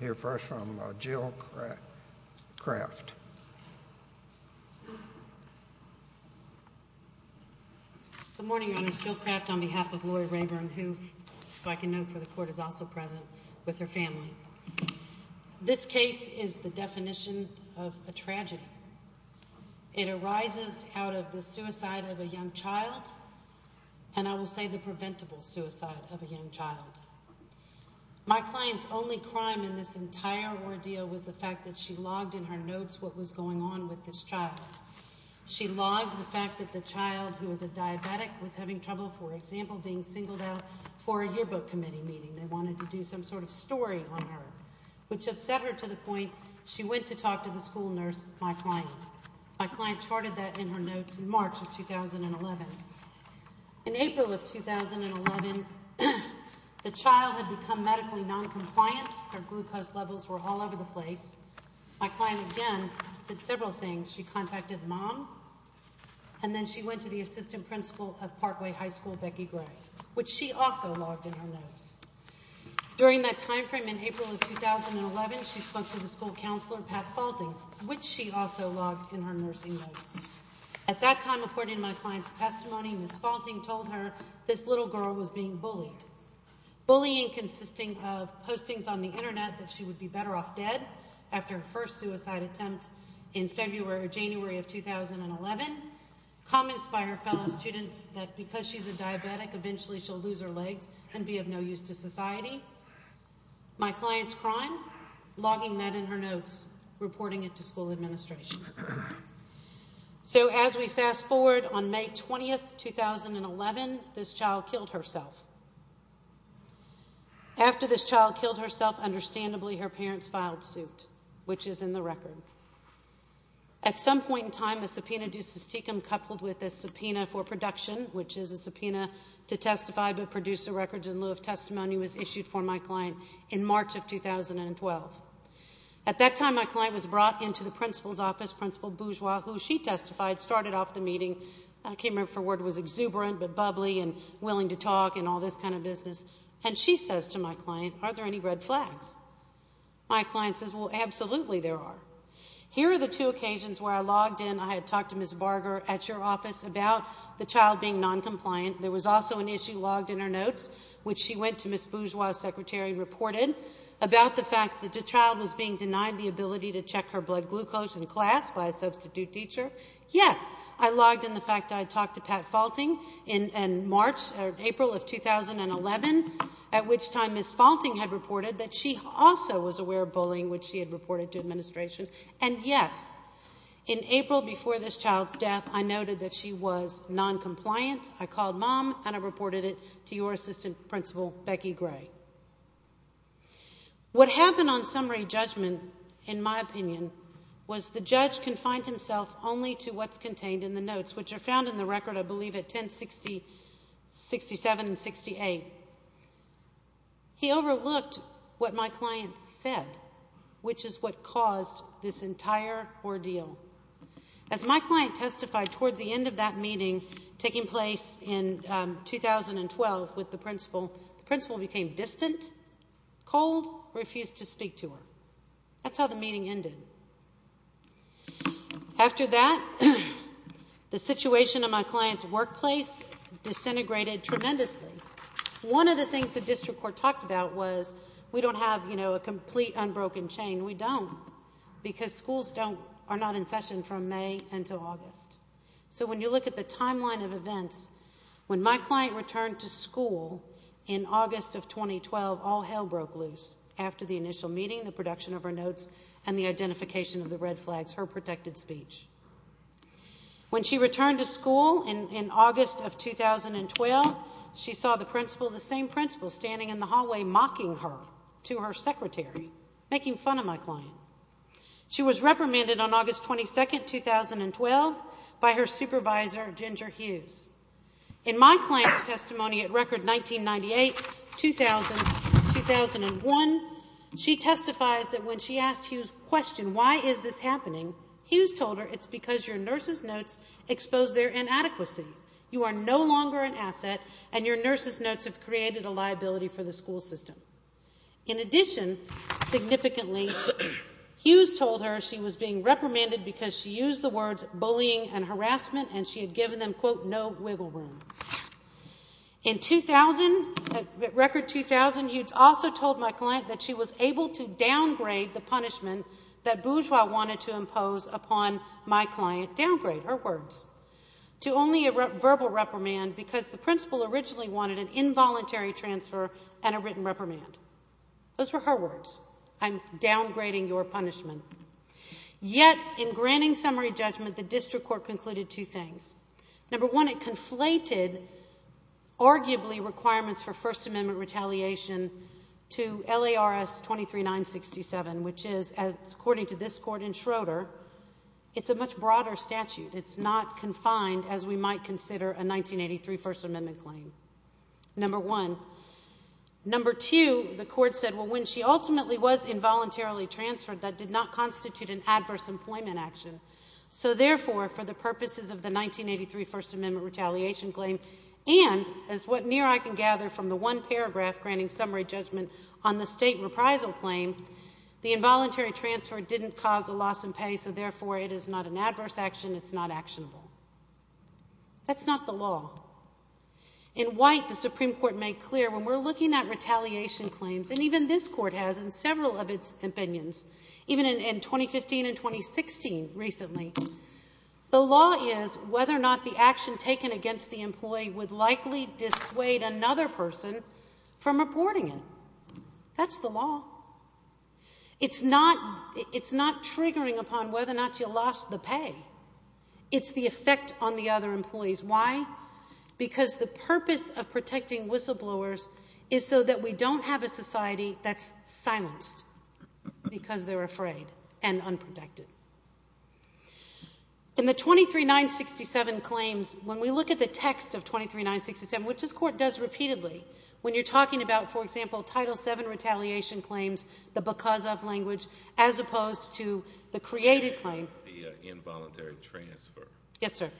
I hear first from Jill Craft. Good morning, Your Honors. Jill Craft on behalf of Lori Rayborn, who I can note for the Court, is also present with her family. This case is the definition of a tragedy. It arises out of the suicide of a young child, and I will say the preventable suicide of a young child. My client's only crime in this entire ordeal was the fact that she logged in her notes what was going on with this child. She logged the fact that the child, who was a diabetic, was having trouble, for example, being singled out for a yearbook committee meeting. They wanted to do some sort of story on her, which upset her to the point she went to talk to the school nurse, my client. My client charted that in her notes in March of 2011. In April of 2011, the child had become medically noncompliant. Her glucose levels were all over the place. My client, again, did several things. She contacted mom, and then she went to the assistant principal of Parkway High School, Becky Gray, which she also logged in her notes. During that time frame in April of 2011, she spoke to the school counselor, Pat Faulting, which she also logged in her nursing notes. At that time, according to my client's testimony, Ms. Faulting told her this little girl was being bullied, bullying consisting of postings on the Internet that she would be better off dead after her first suicide attempt in February or January of 2011, comments by her fellow students that because she's a diabetic, eventually she'll lose her legs and be of no use to society, my client's crime, logging that in her notes, reporting it to school administration. So as we fast forward, on May 20th, 2011, this child killed herself. After this child killed herself, understandably, her parents filed suit, which is in the record. At some point in time, a subpoena ducis tecum coupled with a subpoena for production, which is a subpoena to testify but produce a record in lieu of testimony, was issued for my client in March of 2012. At that time, my client was brought into the principal's office, Principal Bourgeois, who she testified started off the meeting, came in for what was exuberant but bubbly and willing to talk and all this kind of business, and she says to my client, are there any red flags? My client says, well, absolutely there are. Here are the two occasions where I logged in. I had talked to Ms. Barger at your office about the child being noncompliant. There was also an issue logged in her notes, which she went to Ms. Bourgeois's secretary and reported, about the fact that the child was being denied the ability to check her blood glucose in class by a substitute teacher. Yes, I logged in the fact that I had talked to Pat Faulting in March or April of 2011, at which time Ms. Faulting had reported that she also was aware of bullying, which she had reported to administration. And yes, in April before this child's death, I noted that she was noncompliant. I called mom, and I reported it to your assistant principal, Becky Gray. What happened on summary judgment, in my opinion, was the judge confined himself only to what's contained in the notes, which are found in the record, I believe, at 1060, 67, and 68. He overlooked what my client said, which is what caused this entire ordeal. As my client testified toward the end of that meeting taking place in 2012 with the principal, the principal became distant, cold, refused to speak to her. That's how the meeting ended. After that, the situation in my client's workplace disintegrated tremendously. One of the things the district court talked about was we don't have, you know, a complete unbroken chain. We don't, because schools are not in session from May until August. So when you look at the timeline of events, when my client returned to school in August of 2012, after the initial meeting, the production of her notes, and the identification of the red flags, her protected speech. When she returned to school in August of 2012, she saw the principal, the same principal, standing in the hallway mocking her to her secretary, making fun of my client. She was reprimanded on August 22, 2012, by her supervisor, Ginger Hughes. In my client's testimony at Record 1998-2001, she testifies that when she asked Hughes a question, why is this happening, Hughes told her it's because your nurse's notes expose their inadequacies. You are no longer an asset, and your nurse's notes have created a liability for the school system. In addition, significantly, Hughes told her she was being reprimanded because she used the words for bullying and harassment, and she had given them, quote, no wiggle room. In 2000, at Record 2000, Hughes also told my client that she was able to downgrade the punishment that Bourgeois wanted to impose upon my client. Downgrade, her words, to only a verbal reprimand because the principal originally wanted an involuntary transfer and a written reprimand. Those were her words. I'm downgrading your punishment. Yet, in granting summary judgment, the district court concluded two things. Number one, it conflated, arguably, requirements for First Amendment retaliation to LARS 23-967, which is, according to this court in Schroeder, it's a much broader statute. It's not confined as we might consider a 1983 First Amendment claim, number one. Number two, the court said, well, when she ultimately was involuntarily transferred, that did not constitute an adverse employment action. So, therefore, for the purposes of the 1983 First Amendment retaliation claim, and as what near I can gather from the one paragraph granting summary judgment on the state reprisal claim, the involuntary transfer didn't cause a loss in pay, so, therefore, it is not an adverse action. It's not actionable. That's not the law. In White, the Supreme Court made clear, when we're looking at retaliation claims, and even this court has in several of its opinions, even in 2015 and 2016 recently, the law is whether or not the action taken against the employee would likely dissuade another person from reporting it. That's the law. It's not triggering upon whether or not you lost the pay. It's the effect on the other employees. Why? Because the purpose of protecting whistleblowers is so that we don't have a society that's silenced because they're afraid and unprotected. In the 23-967 claims, when we look at the text of 23-967, which this court does repeatedly, when you're talking about, for example, Title VII retaliation claims, the because of language, as opposed to the created claim. The involuntary transfer. Yes, sir.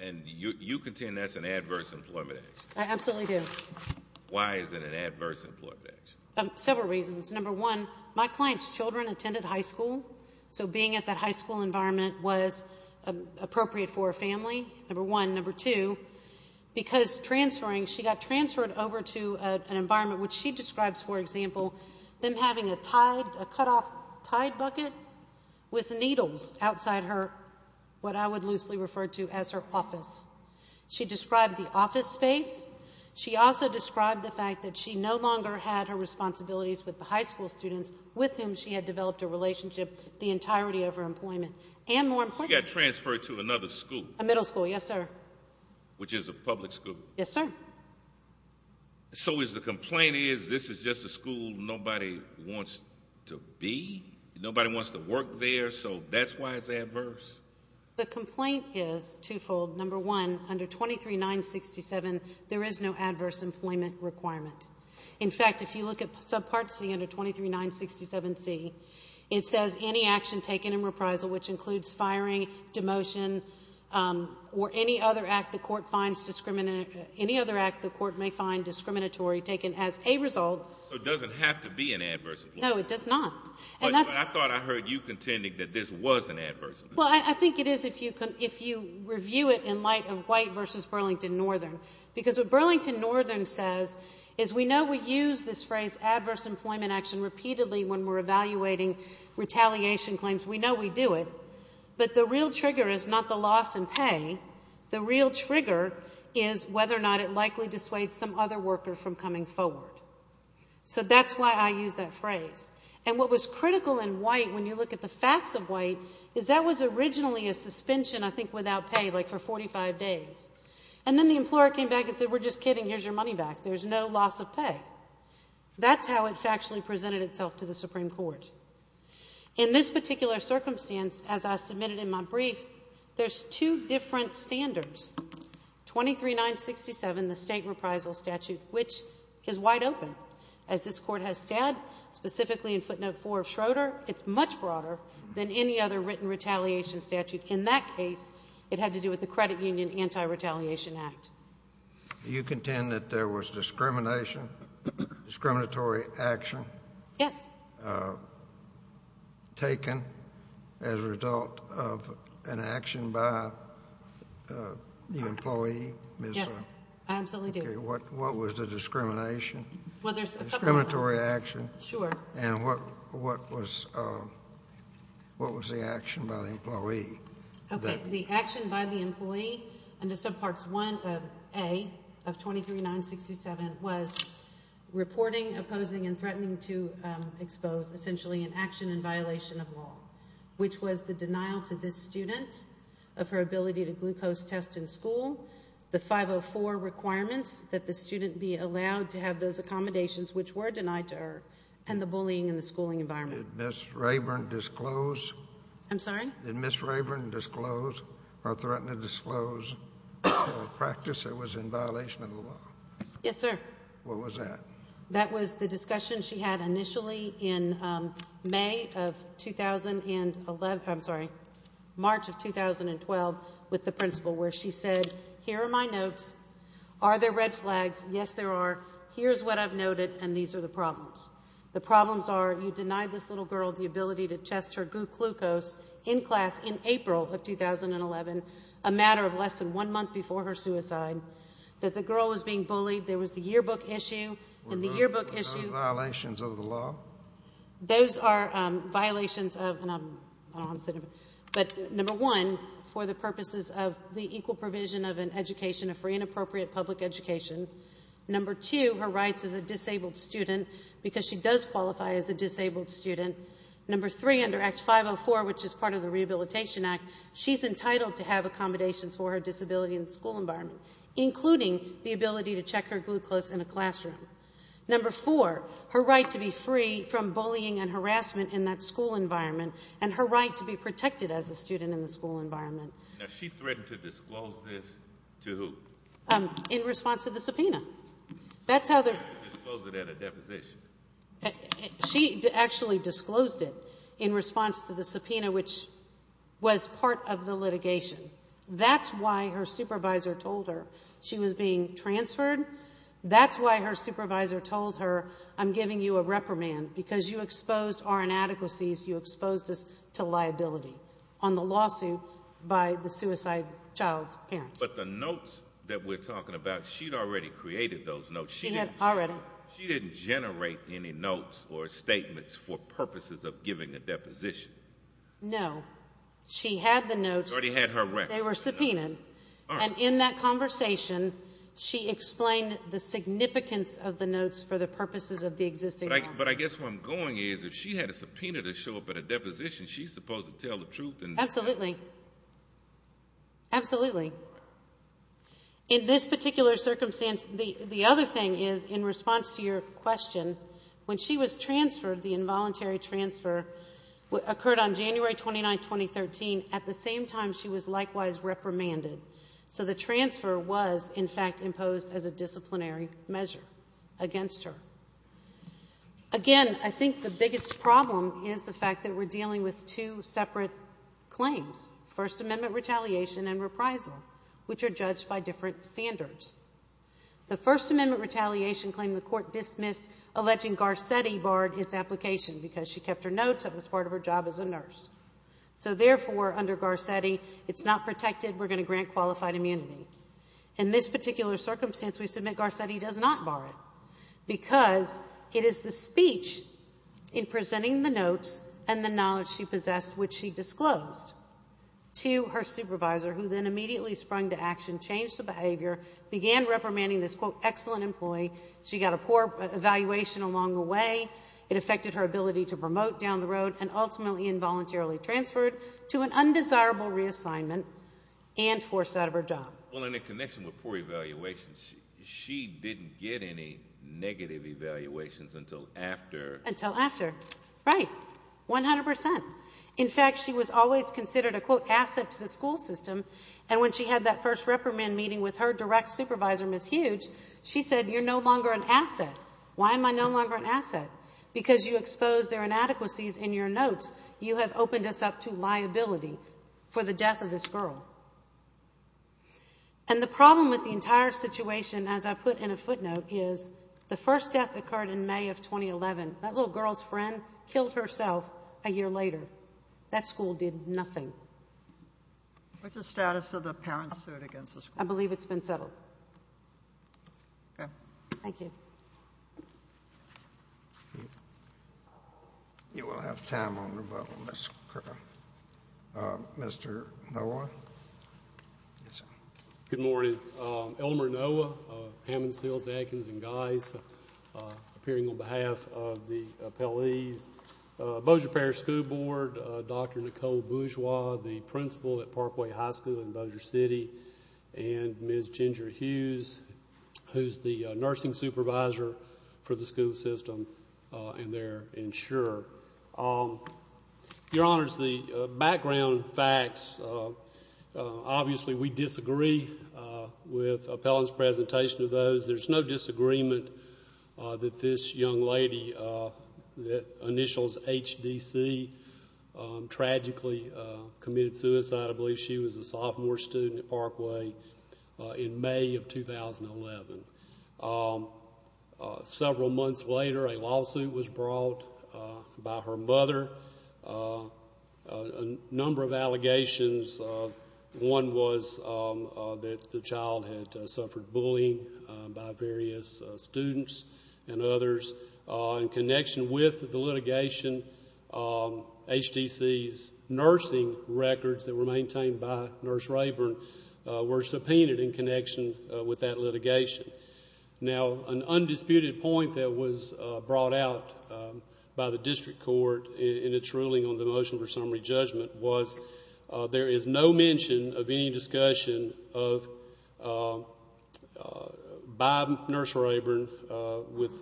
And you contend that's an adverse employment action? I absolutely do. Why is it an adverse employment action? Several reasons. Number one, my client's children attended high school, so being at that high school environment was appropriate for a family, number one. Number two, because transferring, she got transferred over to an environment which she describes, for example, them having a tied, a cutoff tied bucket with needles outside her, what I would loosely refer to as her office. She described the office space. She also described the fact that she no longer had her responsibilities with the high school students with whom she had developed a relationship the entirety of her employment. And more important. She got transferred to another school. A middle school, yes, sir. Which is a public school. Yes, sir. So the complaint is this is just a school nobody wants to be, nobody wants to work there, so that's why it's adverse? The complaint is twofold. Number one, under 23-967, there is no adverse employment requirement. In fact, if you look at subpart C under 23-967C, it says any action taken in reprisal, which includes firing, demotion, or any other act the court may find discriminatory taken as a result. So it doesn't have to be an adverse employment? No, it does not. I thought I heard you contending that this was an adverse employment. Well, I think it is if you review it in light of White v. Burlington Northern. Because what Burlington Northern says is we know we use this phrase adverse employment action repeatedly when we're evaluating retaliation claims, we know we do it. But the real trigger is not the loss in pay. The real trigger is whether or not it likely dissuades some other worker from coming forward. So that's why I use that phrase. And what was critical in White, when you look at the facts of White, is that was originally a suspension, I think, without pay, like for 45 days. And then the employer came back and said, we're just kidding, here's your money back. There's no loss of pay. That's how it factually presented itself to the Supreme Court. In this particular circumstance, as I submitted in my brief, there's two different standards. 23-967, the State Reprisal Statute, which is wide open. As this Court has said, specifically in footnote 4 of Schroeder, it's much broader than any other written retaliation statute. In that case, it had to do with the Credit Union Anti-Retaliation Act. Do you contend that there was discrimination, discriminatory action? Yes. Taken as a result of an action by the employee? Yes, I absolutely do. What was the discrimination? Well, there's a couple of them. Discriminatory action? Sure. And what was the action by the employee? Okay. The action by the employee under Subpart 1A of 23-967 was reporting, opposing, and threatening to expose, essentially an action in violation of law, which was the denial to this student of her ability to glucose test in school, the 504 requirements that the student be allowed to have those accommodations which were denied to her, and the bullying in the schooling environment. Did Ms. Rayburn disclose? I'm sorry? Did Ms. Rayburn disclose or threaten to disclose a practice that was in violation of the law? Yes, sir. What was that? That was the discussion she had initially in May of 2011, I'm sorry, March of 2012 with the principal, where she said, here are my notes. Are there red flags? Yes, there are. Here's what I've noted, and these are the problems. The problems are you denied this little girl the ability to test her glucose in class in April of 2011, a matter of less than one month before her suicide, that the girl was being bullied, there was a yearbook issue, and the yearbook issue. Were those violations of the law? Those are violations of, and I'm, I don't know how to say it, but number one, for the purposes of the equal provision of an education, a free and appropriate public education. Number two, her rights as a disabled student, because she does qualify as a disabled student. Number three, under Act 504, which is part of the Rehabilitation Act, she's entitled to have accommodations for her disability in the school environment, including the ability to check her glucose in a classroom. Number four, her right to be free from bullying and harassment in that school environment, and her right to be protected as a student in the school environment. Now, she threatened to disclose this to who? In response to the subpoena. That's how they're... Disclose it at a deposition. She actually disclosed it in response to the subpoena, which was part of the litigation. That's why her supervisor told her she was being transferred. That's why her supervisor told her, I'm giving you a reprimand because you exposed our inadequacies, But the notes that we're talking about, she'd already created those notes. She had already. She didn't generate any notes or statements for purposes of giving a deposition. No. She had the notes. She already had her records. They were subpoenaed. And in that conversation, she explained the significance of the notes for the purposes of the existing lawsuit. But I guess where I'm going is if she had a subpoena to show up at a deposition, she's supposed to tell the truth. Absolutely. Absolutely. In this particular circumstance, the other thing is, in response to your question, when she was transferred, the involuntary transfer occurred on January 29, 2013, at the same time she was likewise reprimanded. So the transfer was, in fact, imposed as a disciplinary measure against her. Again, I think the biggest problem is the fact that we're dealing with two separate claims, First Amendment retaliation and reprisal, which are judged by different standards. The First Amendment retaliation claim, the court dismissed, alleging Garcetti barred its application because she kept her notes. It was part of her job as a nurse. So, therefore, under Garcetti, it's not protected. We're going to grant qualified immunity. In this particular circumstance, we submit Garcetti does not bar it because it is the speech in presenting the notes and the knowledge she possessed, which she disclosed to her supervisor, who then immediately sprung to action, changed the behavior, began reprimanding this, quote, excellent employee. She got a poor evaluation along the way. It affected her ability to promote down the road and ultimately involuntarily transferred to an undesirable reassignment and forced out of her job. Well, in a connection with poor evaluations, she didn't get any negative evaluations until after. Until after, right, 100%. In fact, she was always considered a, quote, asset to the school system, and when she had that first reprimand meeting with her direct supervisor, Ms. Hughes, she said, you're no longer an asset. Why am I no longer an asset? Because you exposed their inadequacies in your notes. You have opened us up to liability for the death of this girl. And the problem with the entire situation, as I put in a footnote, is the first death occurred in May of 2011. That little girl's friend killed herself a year later. That school did nothing. What's the status of the parents' suit against the school? I believe it's been settled. Senator? Thank you. You will have time on rebuttal, Ms. Cooper. Mr. Noah? Good morning. Elmer Noah, Hammond, Sills, Atkins, and Geis, appearing on behalf of the appellees, Bossier Parish School Board, Dr. Nicole Bourgeois, the principal at Parkway High School in Bossier City, and Ms. Ginger Hughes, who's the nursing supervisor for the school system and their insurer. Your Honors, the background facts, obviously we disagree with Appellant's presentation of those. There's no disagreement that this young lady that initials HDC tragically committed suicide. I believe she was a sophomore student at Parkway in May of 2011. Several months later, a lawsuit was brought by her mother, a number of allegations. One was that the child had suffered bullying by various students and others. In connection with the litigation, HDC's nursing records that were maintained by Nurse Rayburn were subpoenaed in connection with that litigation. Now, an undisputed point that was brought out by the district court in its ruling on the motion for summary judgment was there is no mention of any discussion by Nurse Rayburn with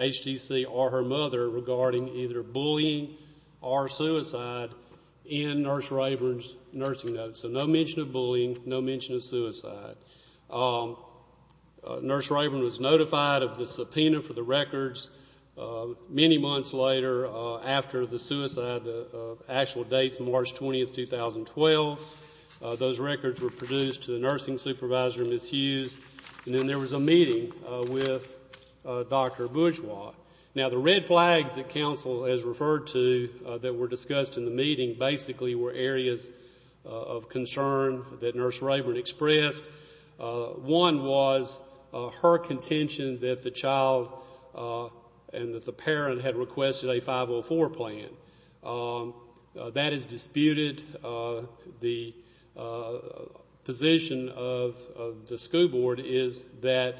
HDC or her mother regarding either bullying or suicide in Nurse Rayburn's nursing notes. So no mention of bullying, no mention of suicide. Nurse Rayburn was notified of the subpoena for the records many months later after the suicide. We have the actual dates, March 20, 2012. Those records were produced to the nursing supervisor, Ms. Hughes. And then there was a meeting with Dr. Bourgeois. Now, the red flags that counsel has referred to that were discussed in the meeting basically were areas of concern that Nurse Rayburn expressed. One was her contention that the child and that the parent had requested a 504 plan. That is disputed. The position of the school board is that,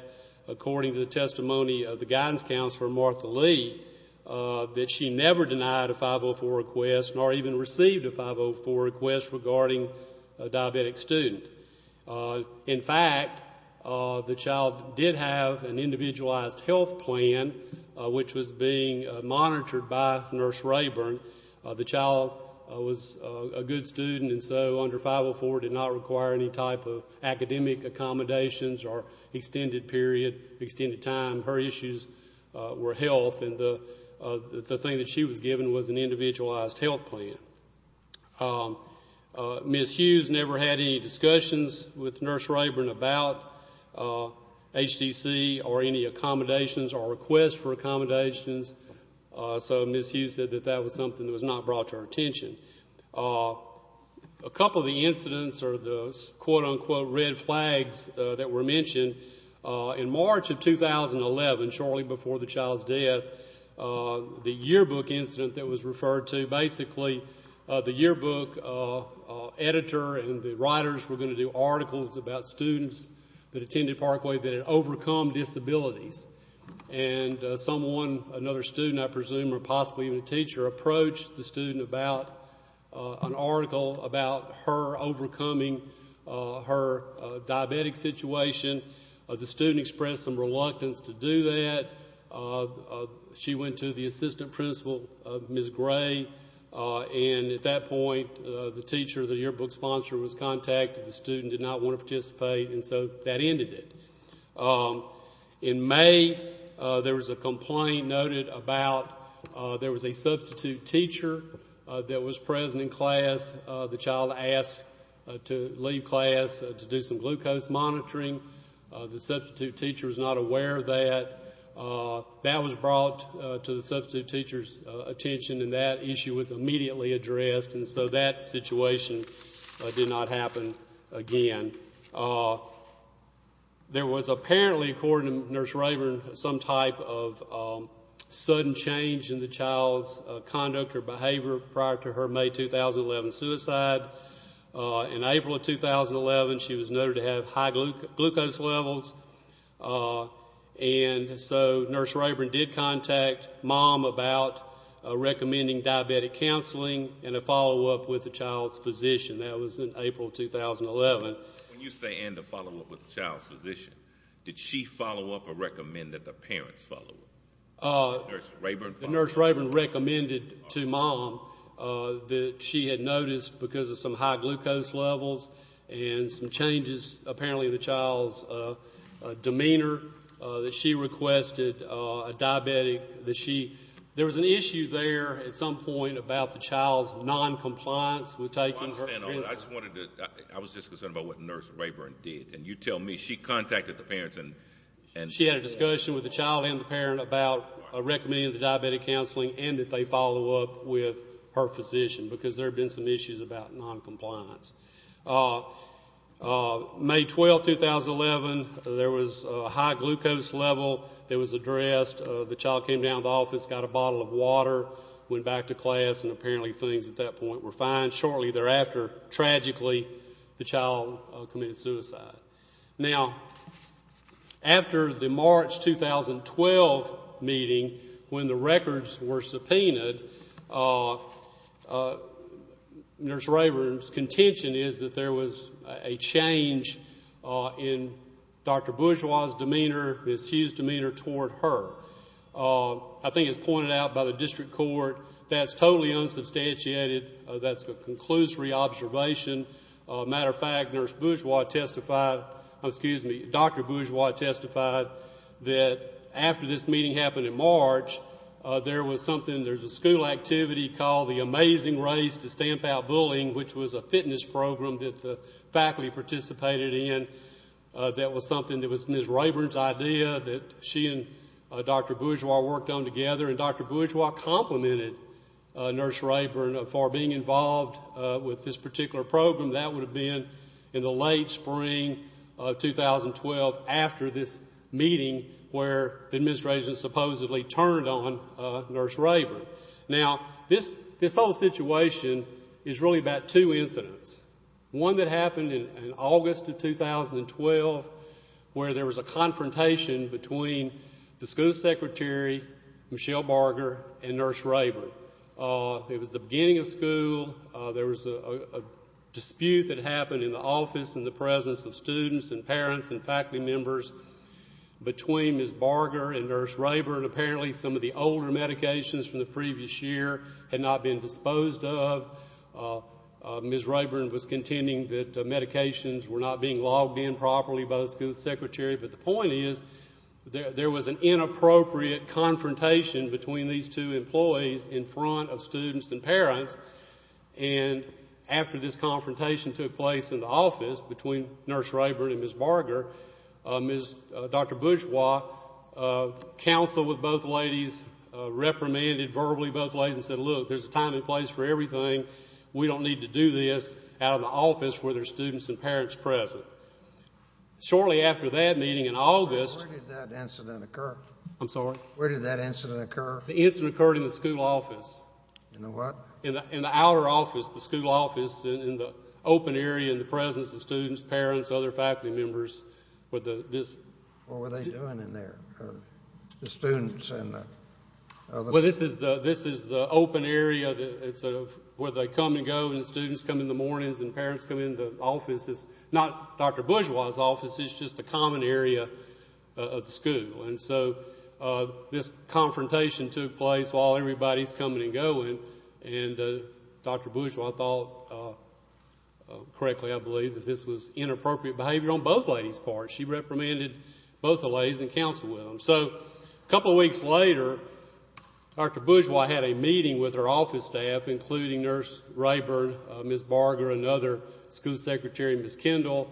according to the testimony of the guidance counselor, Martha Lee, that she never denied a 504 request nor even received a 504 request regarding a diabetic student. In fact, the child did have an individualized health plan, which was being monitored by Nurse Rayburn. The child was a good student, and so under 504 did not require any type of academic accommodations or extended period, extended time. Her issues were health, and the thing that she was given was an individualized health plan. Ms. Hughes never had any discussions with Nurse Rayburn about HTC or any accommodations or requests for accommodations. So Ms. Hughes said that that was something that was not brought to her attention. A couple of the incidents are the quote, unquote, red flags that were mentioned. In March of 2011, shortly before the child's death, the yearbook incident that was referred to, basically the yearbook editor and the writers were going to do articles about students that attended Parkway that had overcome disabilities. And someone, another student, I presume, or possibly even a teacher, approached the student about an article about her overcoming her diabetic situation. The student expressed some reluctance to do that. She went to the assistant principal, Ms. Gray, and at that point, the teacher, the yearbook sponsor, was contacted. The student did not want to participate, and so that ended it. In May, there was a complaint noted about there was a substitute teacher that was present in class. The child asked to leave class to do some glucose monitoring. The substitute teacher was not aware of that. That was brought to the substitute teacher's attention, and that issue was immediately addressed. And so that situation did not happen again. There was apparently, according to Nurse Rayburn, some type of sudden change in the child's conduct or behavior prior to her May 2011 suicide. In April of 2011, she was noted to have high glucose levels. And so Nurse Rayburn did contact Mom about recommending diabetic counseling and a follow-up with the child's physician. That was in April of 2011. When you say, and a follow-up with the child's physician, did she follow up or recommend that the parents follow up? Nurse Rayburn followed up. Nurse Rayburn recommended to Mom that she had noticed, because of some high glucose levels and some changes, apparently, in the child's demeanor, that she requested a diabetic, that she – there was an issue there at some point about the child's noncompliance with taking her – I don't understand all that. I just wanted to – I was just concerned about what Nurse Rayburn did. And you tell me. She contacted the parents and – She had a discussion with the child and the parent about recommending the diabetic counseling and that they follow up with her physician, because there had been some issues about noncompliance. May 12, 2011, there was a high glucose level that was addressed. The child came down to the office, got a bottle of water, went back to class, and apparently things at that point were fine. Shortly thereafter, tragically, the child committed suicide. Now, after the March 2012 meeting, when the records were subpoenaed, Nurse Rayburn's contention is that there was a change in Dr. Bourgeois' demeanor, Ms. Hughes' demeanor, toward her. I think it's pointed out by the district court that's totally unsubstantiated. That's a conclusory observation. As a matter of fact, Nurse Bourgeois testified – excuse me, Dr. Bourgeois testified that after this meeting happened in March, there was something – there's a school activity called the Amazing Race to Stamp Out Bullying, which was a fitness program that the faculty participated in. That was something that was Ms. Rayburn's idea that she and Dr. Bourgeois worked on together. Dr. Bourgeois complimented Nurse Rayburn for being involved with this particular program. That would have been in the late spring of 2012 after this meeting where the administration supposedly turned on Nurse Rayburn. Now, this whole situation is really about two incidents. One that happened in August of 2012 where there was a confrontation between the school secretary, Michelle Barger, and Nurse Rayburn. It was the beginning of school. There was a dispute that happened in the office in the presence of students and parents and faculty members between Ms. Barger and Nurse Rayburn. Apparently, some of the older medications from the previous year had not been disposed of. Ms. Rayburn was contending that medications were not being logged in properly by the school secretary. But the point is there was an inappropriate confrontation between these two employees in front of students and parents. And after this confrontation took place in the office between Nurse Rayburn and Ms. Barger, Dr. Bourgeois counseled with both ladies, reprimanded verbally both ladies and said, Look, there's a time and place for everything. We don't need to do this out of the office where there are students and parents present. Shortly after that meeting in August. Where did that incident occur? I'm sorry? Where did that incident occur? The incident occurred in the school office. In the what? In the outer office, the school office, in the open area in the presence of students, parents, other faculty members. What were they doing in there, the students? Well, this is the open area where they come and go and students come in the mornings and parents come in the office. It's not Dr. Bourgeois' office. It's just a common area of the school. And so this confrontation took place while everybody's coming and going. And Dr. Bourgeois thought correctly, I believe, that this was inappropriate behavior on both ladies' part. She reprimanded both the ladies and counseled with them. So a couple of weeks later, Dr. Bourgeois had a meeting with her office staff, including Nurse Rayburn, Ms. Barger, another school secretary, Ms. Kendall,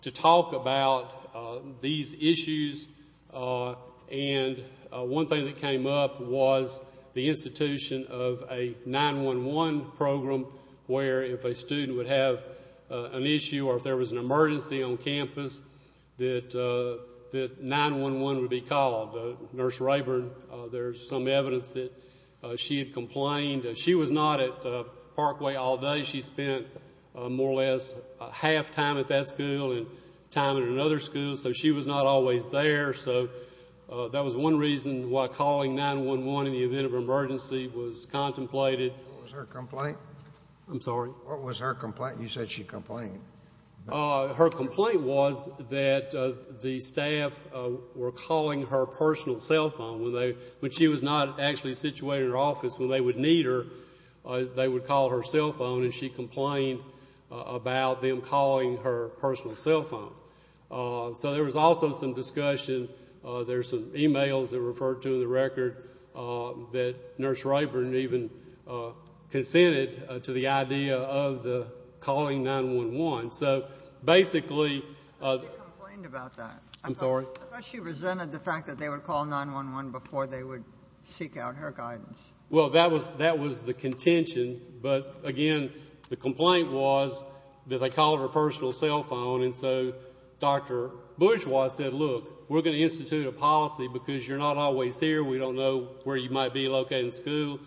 to talk about these issues. And one thing that came up was the institution of a 911 program where if a student would have an issue or if there was an emergency on campus, that 911 would be called. Nurse Rayburn, there's some evidence that she had complained. She was not at Parkway all day. She spent more or less half time at that school and time at another school. So she was not always there. So that was one reason why calling 911 in the event of an emergency was contemplated. What was her complaint? I'm sorry? What was her complaint? You said she complained. Her complaint was that the staff were calling her personal cell phone. When she was not actually situated in her office, when they would need her, they would call her cell phone, and she complained about them calling her personal cell phone. So there was also some discussion. There's some e-mails that were referred to in the record that Nurse Rayburn even consented to the idea of calling 911. So basically they complained about that. I'm sorry? I thought she resented the fact that they would call 911 before they would seek out her guidance. Well, that was the contention. But, again, the complaint was that they called her personal cell phone, and so Dr. Bourgeois said, look, we're going to institute a policy because you're not always here. We don't know where you might be located in school.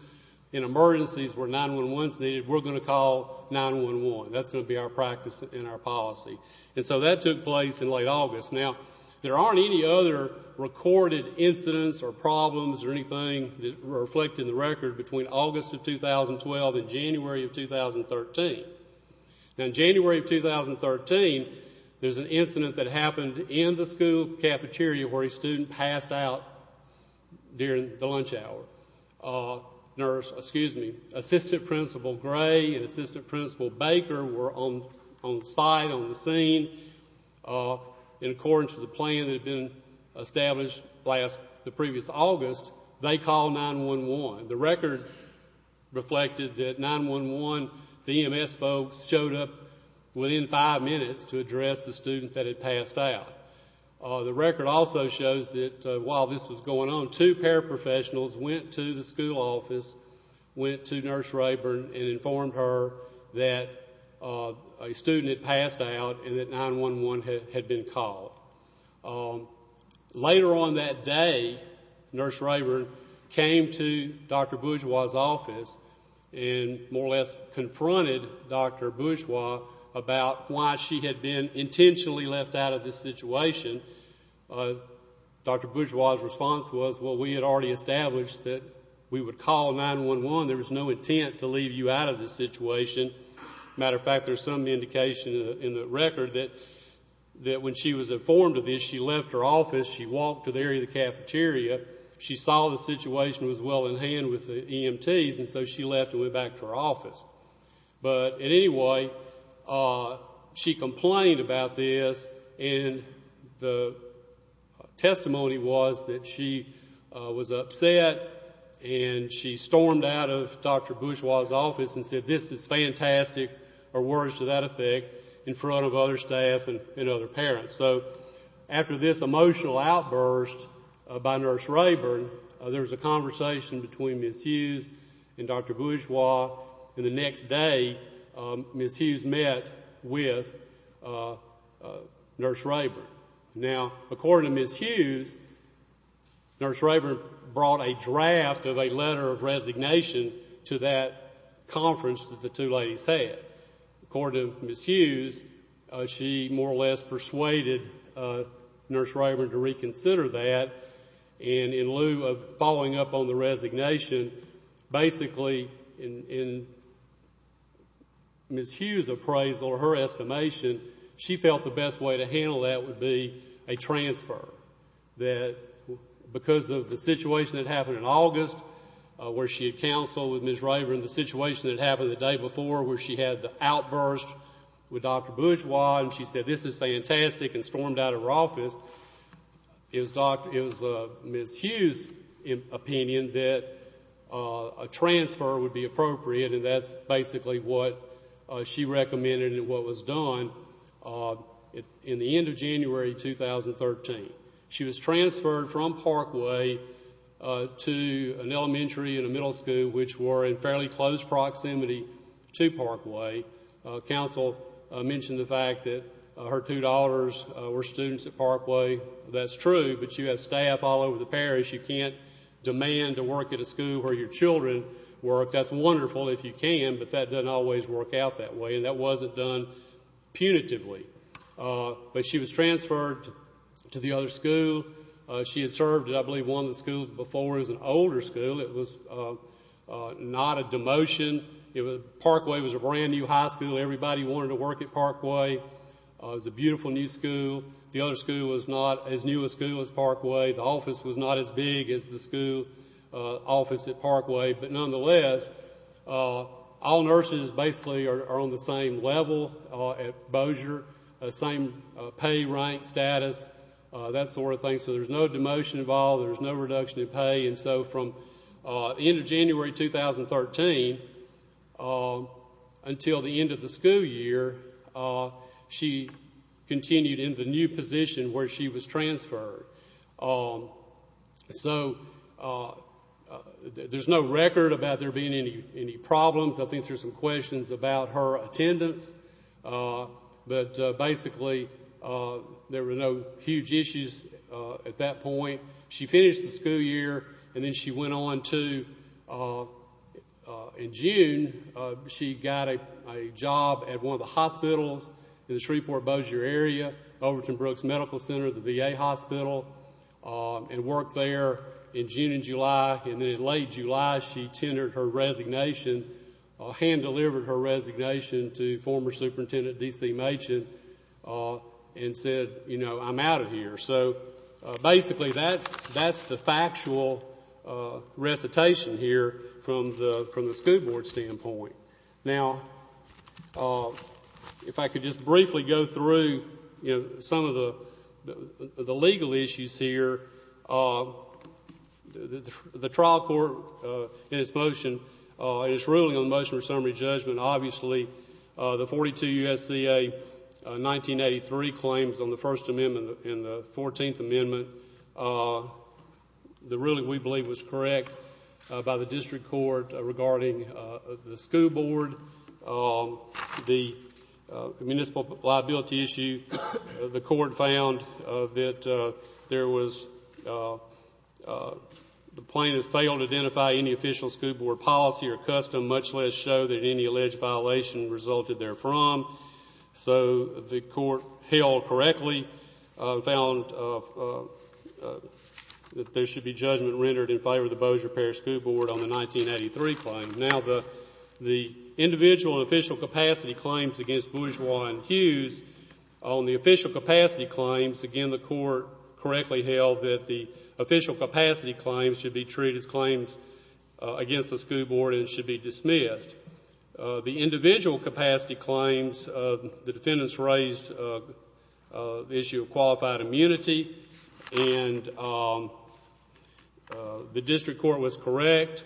In emergencies where 911 is needed, we're going to call 911. That's going to be our practice and our policy. And so that took place in late August. Now, there aren't any other recorded incidents or problems or anything that reflect in the record between August of 2012 and January of 2013. Now, in January of 2013, there's an incident that happened in the school cafeteria where a student passed out during the lunch hour. Nurse, excuse me, Assistant Principal Gray and Assistant Principal Baker were on site, on the scene, and according to the plan that had been established the previous August, they called 911. The record reflected that 911, the EMS folks showed up within five minutes to address the student that had passed out. The record also shows that while this was going on, two paraprofessionals went to the school office, went to Nurse Rayburn and informed her that a student had passed out and that 911 had been called. Later on that day, Nurse Rayburn came to Dr. Bourgeois' office and more or less confronted Dr. Bourgeois about why she had been intentionally left out of the situation. Dr. Bourgeois' response was, well, we had already established that we would call 911. There was no intent to leave you out of the situation. As a matter of fact, there's some indication in the record that when she was informed of this, she left her office. She walked to the area of the cafeteria. She saw the situation was well in hand with the EMTs, and so she left and went back to her office. But anyway, she complained about this, and the testimony was that she was upset and she stormed out of Dr. Bourgeois' office and said, this is fantastic, or words to that effect, in front of other staff and other parents. So after this emotional outburst by Nurse Rayburn, there was a conversation between Ms. Hughes and Dr. Bourgeois, and the next day, Ms. Hughes met with Nurse Rayburn. Now, according to Ms. Hughes, Nurse Rayburn brought a draft of a letter of resignation to that conference that the two ladies had. According to Ms. Hughes, she more or less persuaded Nurse Rayburn to reconsider that, and in lieu of following up on the resignation, basically in Ms. Hughes' appraisal or her estimation, she felt the best way to handle that would be a transfer. Because of the situation that happened in August where she had counseled with Ms. Rayburn, the situation that happened the day before where she had the outburst with Dr. Bourgeois and she said, this is fantastic, and stormed out of her office, it was Ms. Hughes' opinion that a transfer would be appropriate, and that's basically what she recommended and what was done in the end of January 2013. She was transferred from Parkway to an elementary and a middle school, which were in fairly close proximity to Parkway. Counsel mentioned the fact that her two daughters were students at Parkway. That's true, but you have staff all over the parish. You can't demand to work at a school where your children work. That's wonderful if you can, but that doesn't always work out that way, and that wasn't done punitively. But she was transferred to the other school. She had served at, I believe, one of the schools before. It was an older school. It was not a demotion. Parkway was a brand-new high school. Everybody wanted to work at Parkway. It was a beautiful new school. The other school was not as new a school as Parkway. The office was not as big as the school office at Parkway. But nonetheless, all nurses basically are on the same level at Bossier, the same pay, rank, status, that sort of thing. So there's no demotion involved. There's no reduction in pay. And so from the end of January 2013 until the end of the school year, she continued in the new position where she was transferred. So there's no record about there being any problems. I think there's some questions about her attendance, but basically there were no huge issues at that point. She finished the school year, and then she went on to, in June, she got a job at one of the hospitals in the Shreveport-Bossier area, Overton Brooks Medical Center, the VA hospital, and worked there in June and July. And then in late July, she tendered her resignation, hand-delivered her resignation to former superintendent D.C. Machen and said, you know, I'm out of here. So basically that's the factual recitation here from the school board standpoint. Now, if I could just briefly go through, you know, some of the legal issues here. The trial court in its motion, in its ruling on the motion for summary judgment, obviously the 42 U.S.C.A. 1983 claims on the First Amendment and the Fourteenth Amendment, the ruling we believe was correct by the district court regarding the school board, the municipal liability issue. The court found that there was the plaintiff failed to identify any official school board policy or custom, much less show that any alleged violation resulted therefrom. So the court held correctly, found that there should be judgment rendered in favor of the Bossier Parish School Board on the 1983 claims. Now, the individual and official capacity claims against Bourgeois and Hughes, on the official capacity claims, again, the court correctly held that the official capacity claims should be treated as claims against the school board and should be dismissed. The individual capacity claims, the defendants raised the issue of qualified immunity, and the district court was correct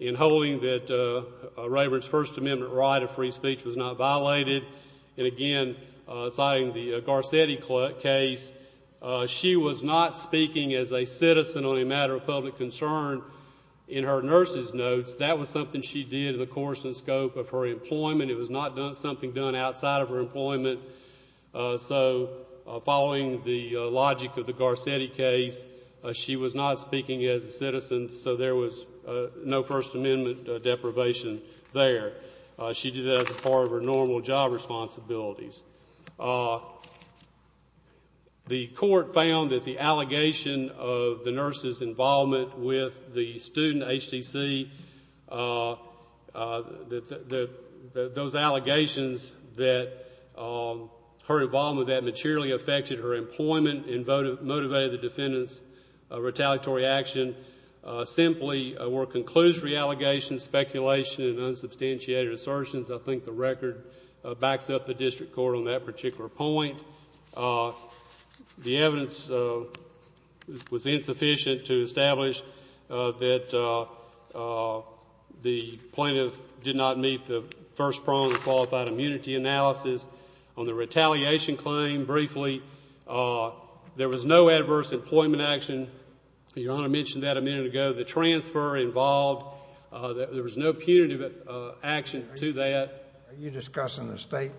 in holding that Rayburn's First Amendment right of free speech was not violated. And again, citing the Garcetti case, she was not speaking as a citizen on a matter of public concern in her nurse's notes. That was something she did in the course and scope of her employment. It was not something done outside of her employment. So following the logic of the Garcetti case, she was not speaking as a citizen, so there was no First Amendment deprivation there. She did that as part of her normal job responsibilities. The court found that the allegation of the nurse's involvement with the student HTC, those allegations that her involvement with that materially affected her employment and motivated the defendant's retaliatory action, simply were conclusory allegations, speculation, and unsubstantiated assertions. I think the record backs up the district court on that particular point. The evidence was insufficient to establish that the plaintiff did not meet the first prong of qualified immunity analysis. On the retaliation claim, briefly, there was no adverse employment action. Your Honor mentioned that a minute ago. The transfer involved, there was no punitive action to that. Are you discussing the state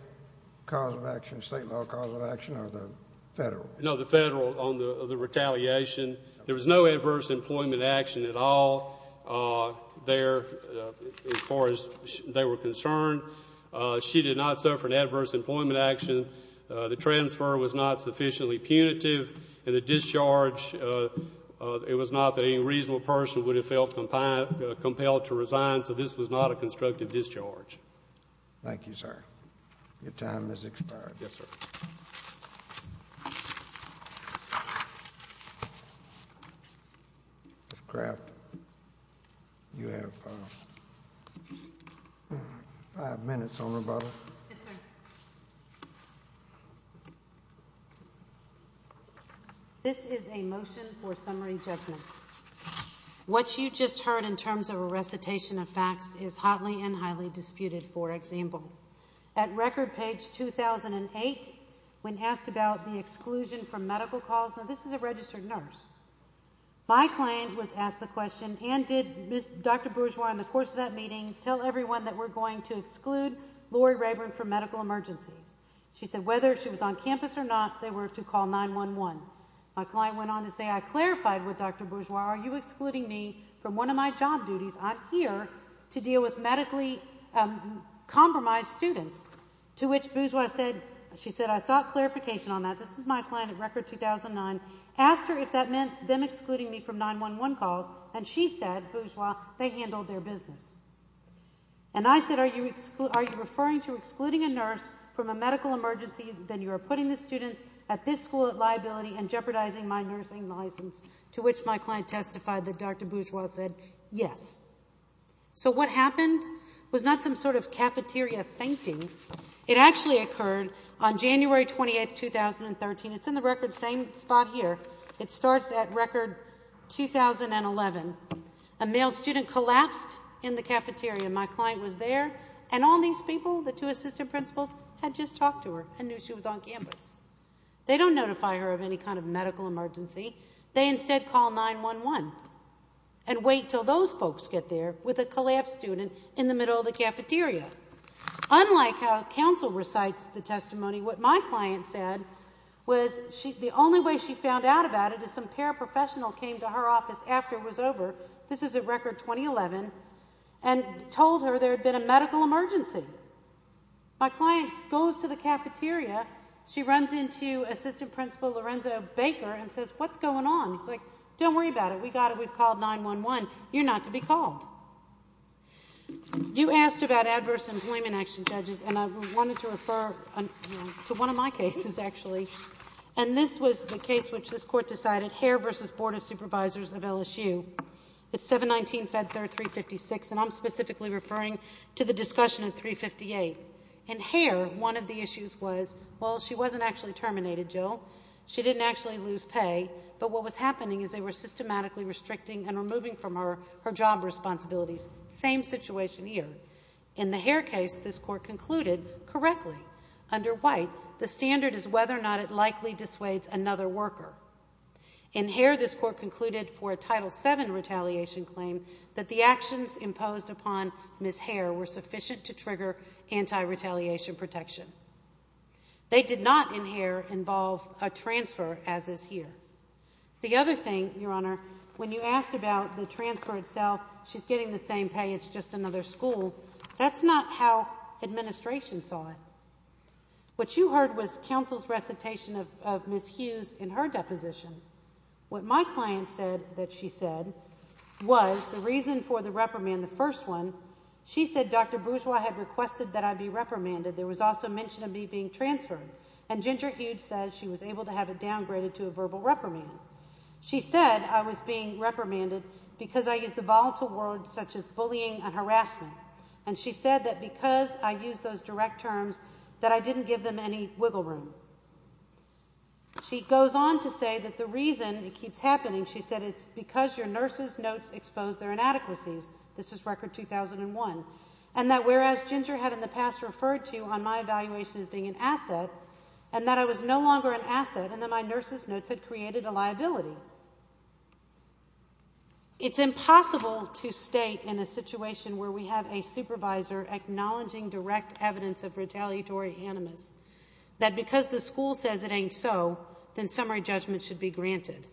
cause of action, state law cause of action, or the Federal? No, the Federal on the retaliation. There was no adverse employment action at all there as far as they were concerned. She did not suffer an adverse employment action. The transfer was not sufficiently punitive. And the discharge, it was not that any reasonable person would have felt compelled to resign, so this was not a constructive discharge. Thank you, sir. Your time has expired. Yes, sir. Ms. Craft, you have five minutes on rebuttal. Yes, sir. This is a motion for summary judgment. What you just heard in terms of a recitation of facts is hotly and highly disputed, for example. At record page 2008, when asked about the exclusion from medical calls, now this is a registered nurse. My client was asked the question, and did Dr. Bourgeois in the course of that meeting tell everyone that we're going to exclude Laurie Rayburn from medical emergencies? She said whether she was on campus or not, they were to call 911. My client went on to say, I clarified with Dr. Bourgeois, are you excluding me from one of my job duties? I'm here to deal with medically compromised students, to which Bourgeois said, she said, I sought clarification on that. This is my client at record 2009. Asked her if that meant them excluding me from 911 calls, and she said, Bourgeois, they handled their business. And I said, are you referring to excluding a nurse from a medical emergency? Then you are putting the students at this school at liability and jeopardizing my nursing license, to which my client testified that Dr. Bourgeois said, yes. So what happened was not some sort of cafeteria fainting. It actually occurred on January 28, 2013. It's in the record, same spot here. It starts at record 2011. A male student collapsed in the cafeteria. My client was there, and all these people, the two assistant principals, had just talked to her and knew she was on campus. They don't notify her of any kind of medical emergency. They instead call 911 and wait until those folks get there with a collapsed student in the middle of the cafeteria. Unlike how counsel recites the testimony, what my client said was the only way she found out about it is some paraprofessional came to her office after it was over. This is at record 2011, and told her there had been a medical emergency. My client goes to the cafeteria. She runs into assistant principal Lorenzo Baker and says, what's going on? He's like, don't worry about it. We got it. We've called 911. You're not to be called. You asked about adverse employment action, judges, and I wanted to refer to one of my cases, actually. And this was the case which this Court decided, Hare v. Board of Supervisors of LSU. It's 719-Fed-3, 356, and I'm specifically referring to the discussion at 358. In Hare, one of the issues was, well, she wasn't actually terminated, Jill. She didn't actually lose pay. But what was happening is they were systematically restricting and removing from her her job responsibilities. Same situation here. In the Hare case, this Court concluded correctly. Under White, the standard is whether or not it likely dissuades another worker. In Hare, this Court concluded for a Title VII retaliation claim that the actions imposed upon Ms. Hare were sufficient to trigger anti-retaliation protection. They did not in Hare involve a transfer as is here. The other thing, Your Honor, when you asked about the transfer itself, she's getting the same pay. It's just another school. That's not how administration saw it. What you heard was counsel's recitation of Ms. Hughes in her deposition. What my client said that she said was the reason for the reprimand, the first one, she said Dr. Bourgeois had requested that I be reprimanded. There was also mention of me being transferred. And Ginger Hughes said she was able to have it downgraded to a verbal reprimand. She said I was being reprimanded because I used the volatile words such as bullying and harassment. And she said that because I used those direct terms that I didn't give them any wiggle room. She goes on to say that the reason it keeps happening, she said it's because your nurse's notes expose their inadequacies. This is Record 2001. And that whereas Ginger had in the past referred to on my evaluation as being an asset and that I was no longer an asset and that my nurse's notes had created a liability. It's impossible to state in a situation where we have a supervisor acknowledging direct evidence of retaliatory animus that because the school says it ain't so, then summary judgment should be granted.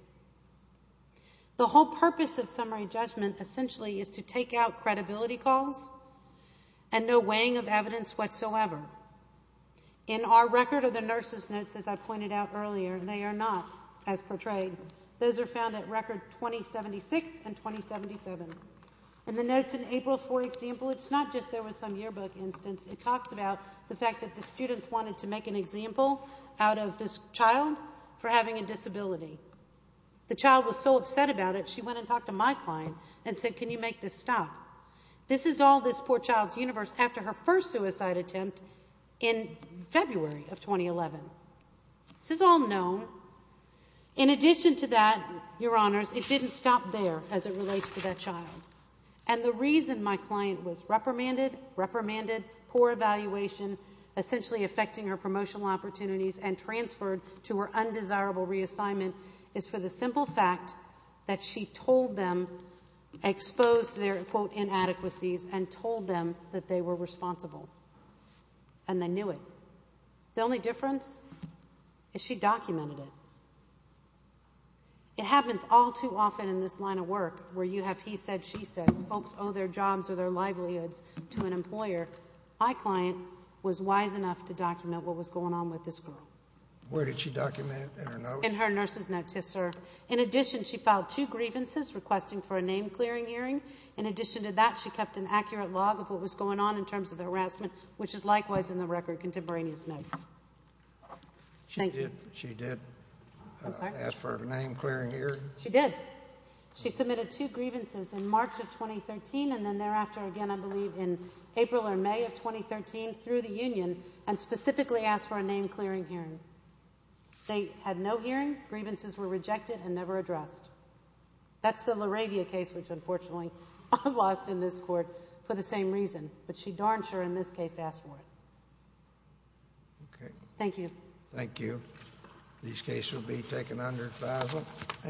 The whole purpose of summary judgment essentially is to take out credibility calls and no weighing of evidence whatsoever. In our record of the nurse's notes, as I pointed out earlier, they are not as portrayed. Those are found at Record 2076 and 2077. In the notes in April, for example, it's not just there was some yearbook instance. It talks about the fact that the students wanted to make an example out of this child for having a disability. The child was so upset about it, she went and talked to my client and said, can you make this stop? This is all this poor child's universe after her first suicide attempt in February of 2011. This is all known. In addition to that, your honors, it didn't stop there as it relates to that child. And the reason my client was reprimanded, reprimanded, poor evaluation, essentially affecting her promotional opportunities and transferred to her undesirable reassignment is for the simple fact that she told them, exposed their, quote, inadequacies and told them that they were responsible. And they knew it. The only difference is she documented it. It happens all too often in this line of work where you have he said, she said. Folks owe their jobs or their livelihoods to an employer. My client was wise enough to document what was going on with this girl. Where did she document it? In her notes? In her nurse's notes, yes, sir. In addition, she filed two grievances requesting for a name-clearing hearing. In addition to that, she kept an accurate log of what was going on in terms of the harassment, which is likewise in the Record contemporaneous notes. Thank you. She did ask for a name-clearing hearing? She did. She submitted two grievances in March of 2013 and then thereafter again, I believe, in April or May of 2013 through the union and specifically asked for a name-clearing hearing. They had no hearing. Grievances were rejected and never addressed. That's the LaRavia case, which unfortunately I lost in this court for the same reason. But she darned sure in this case asked for it. Okay. Thank you. Thank you. These cases will be taken under FISA.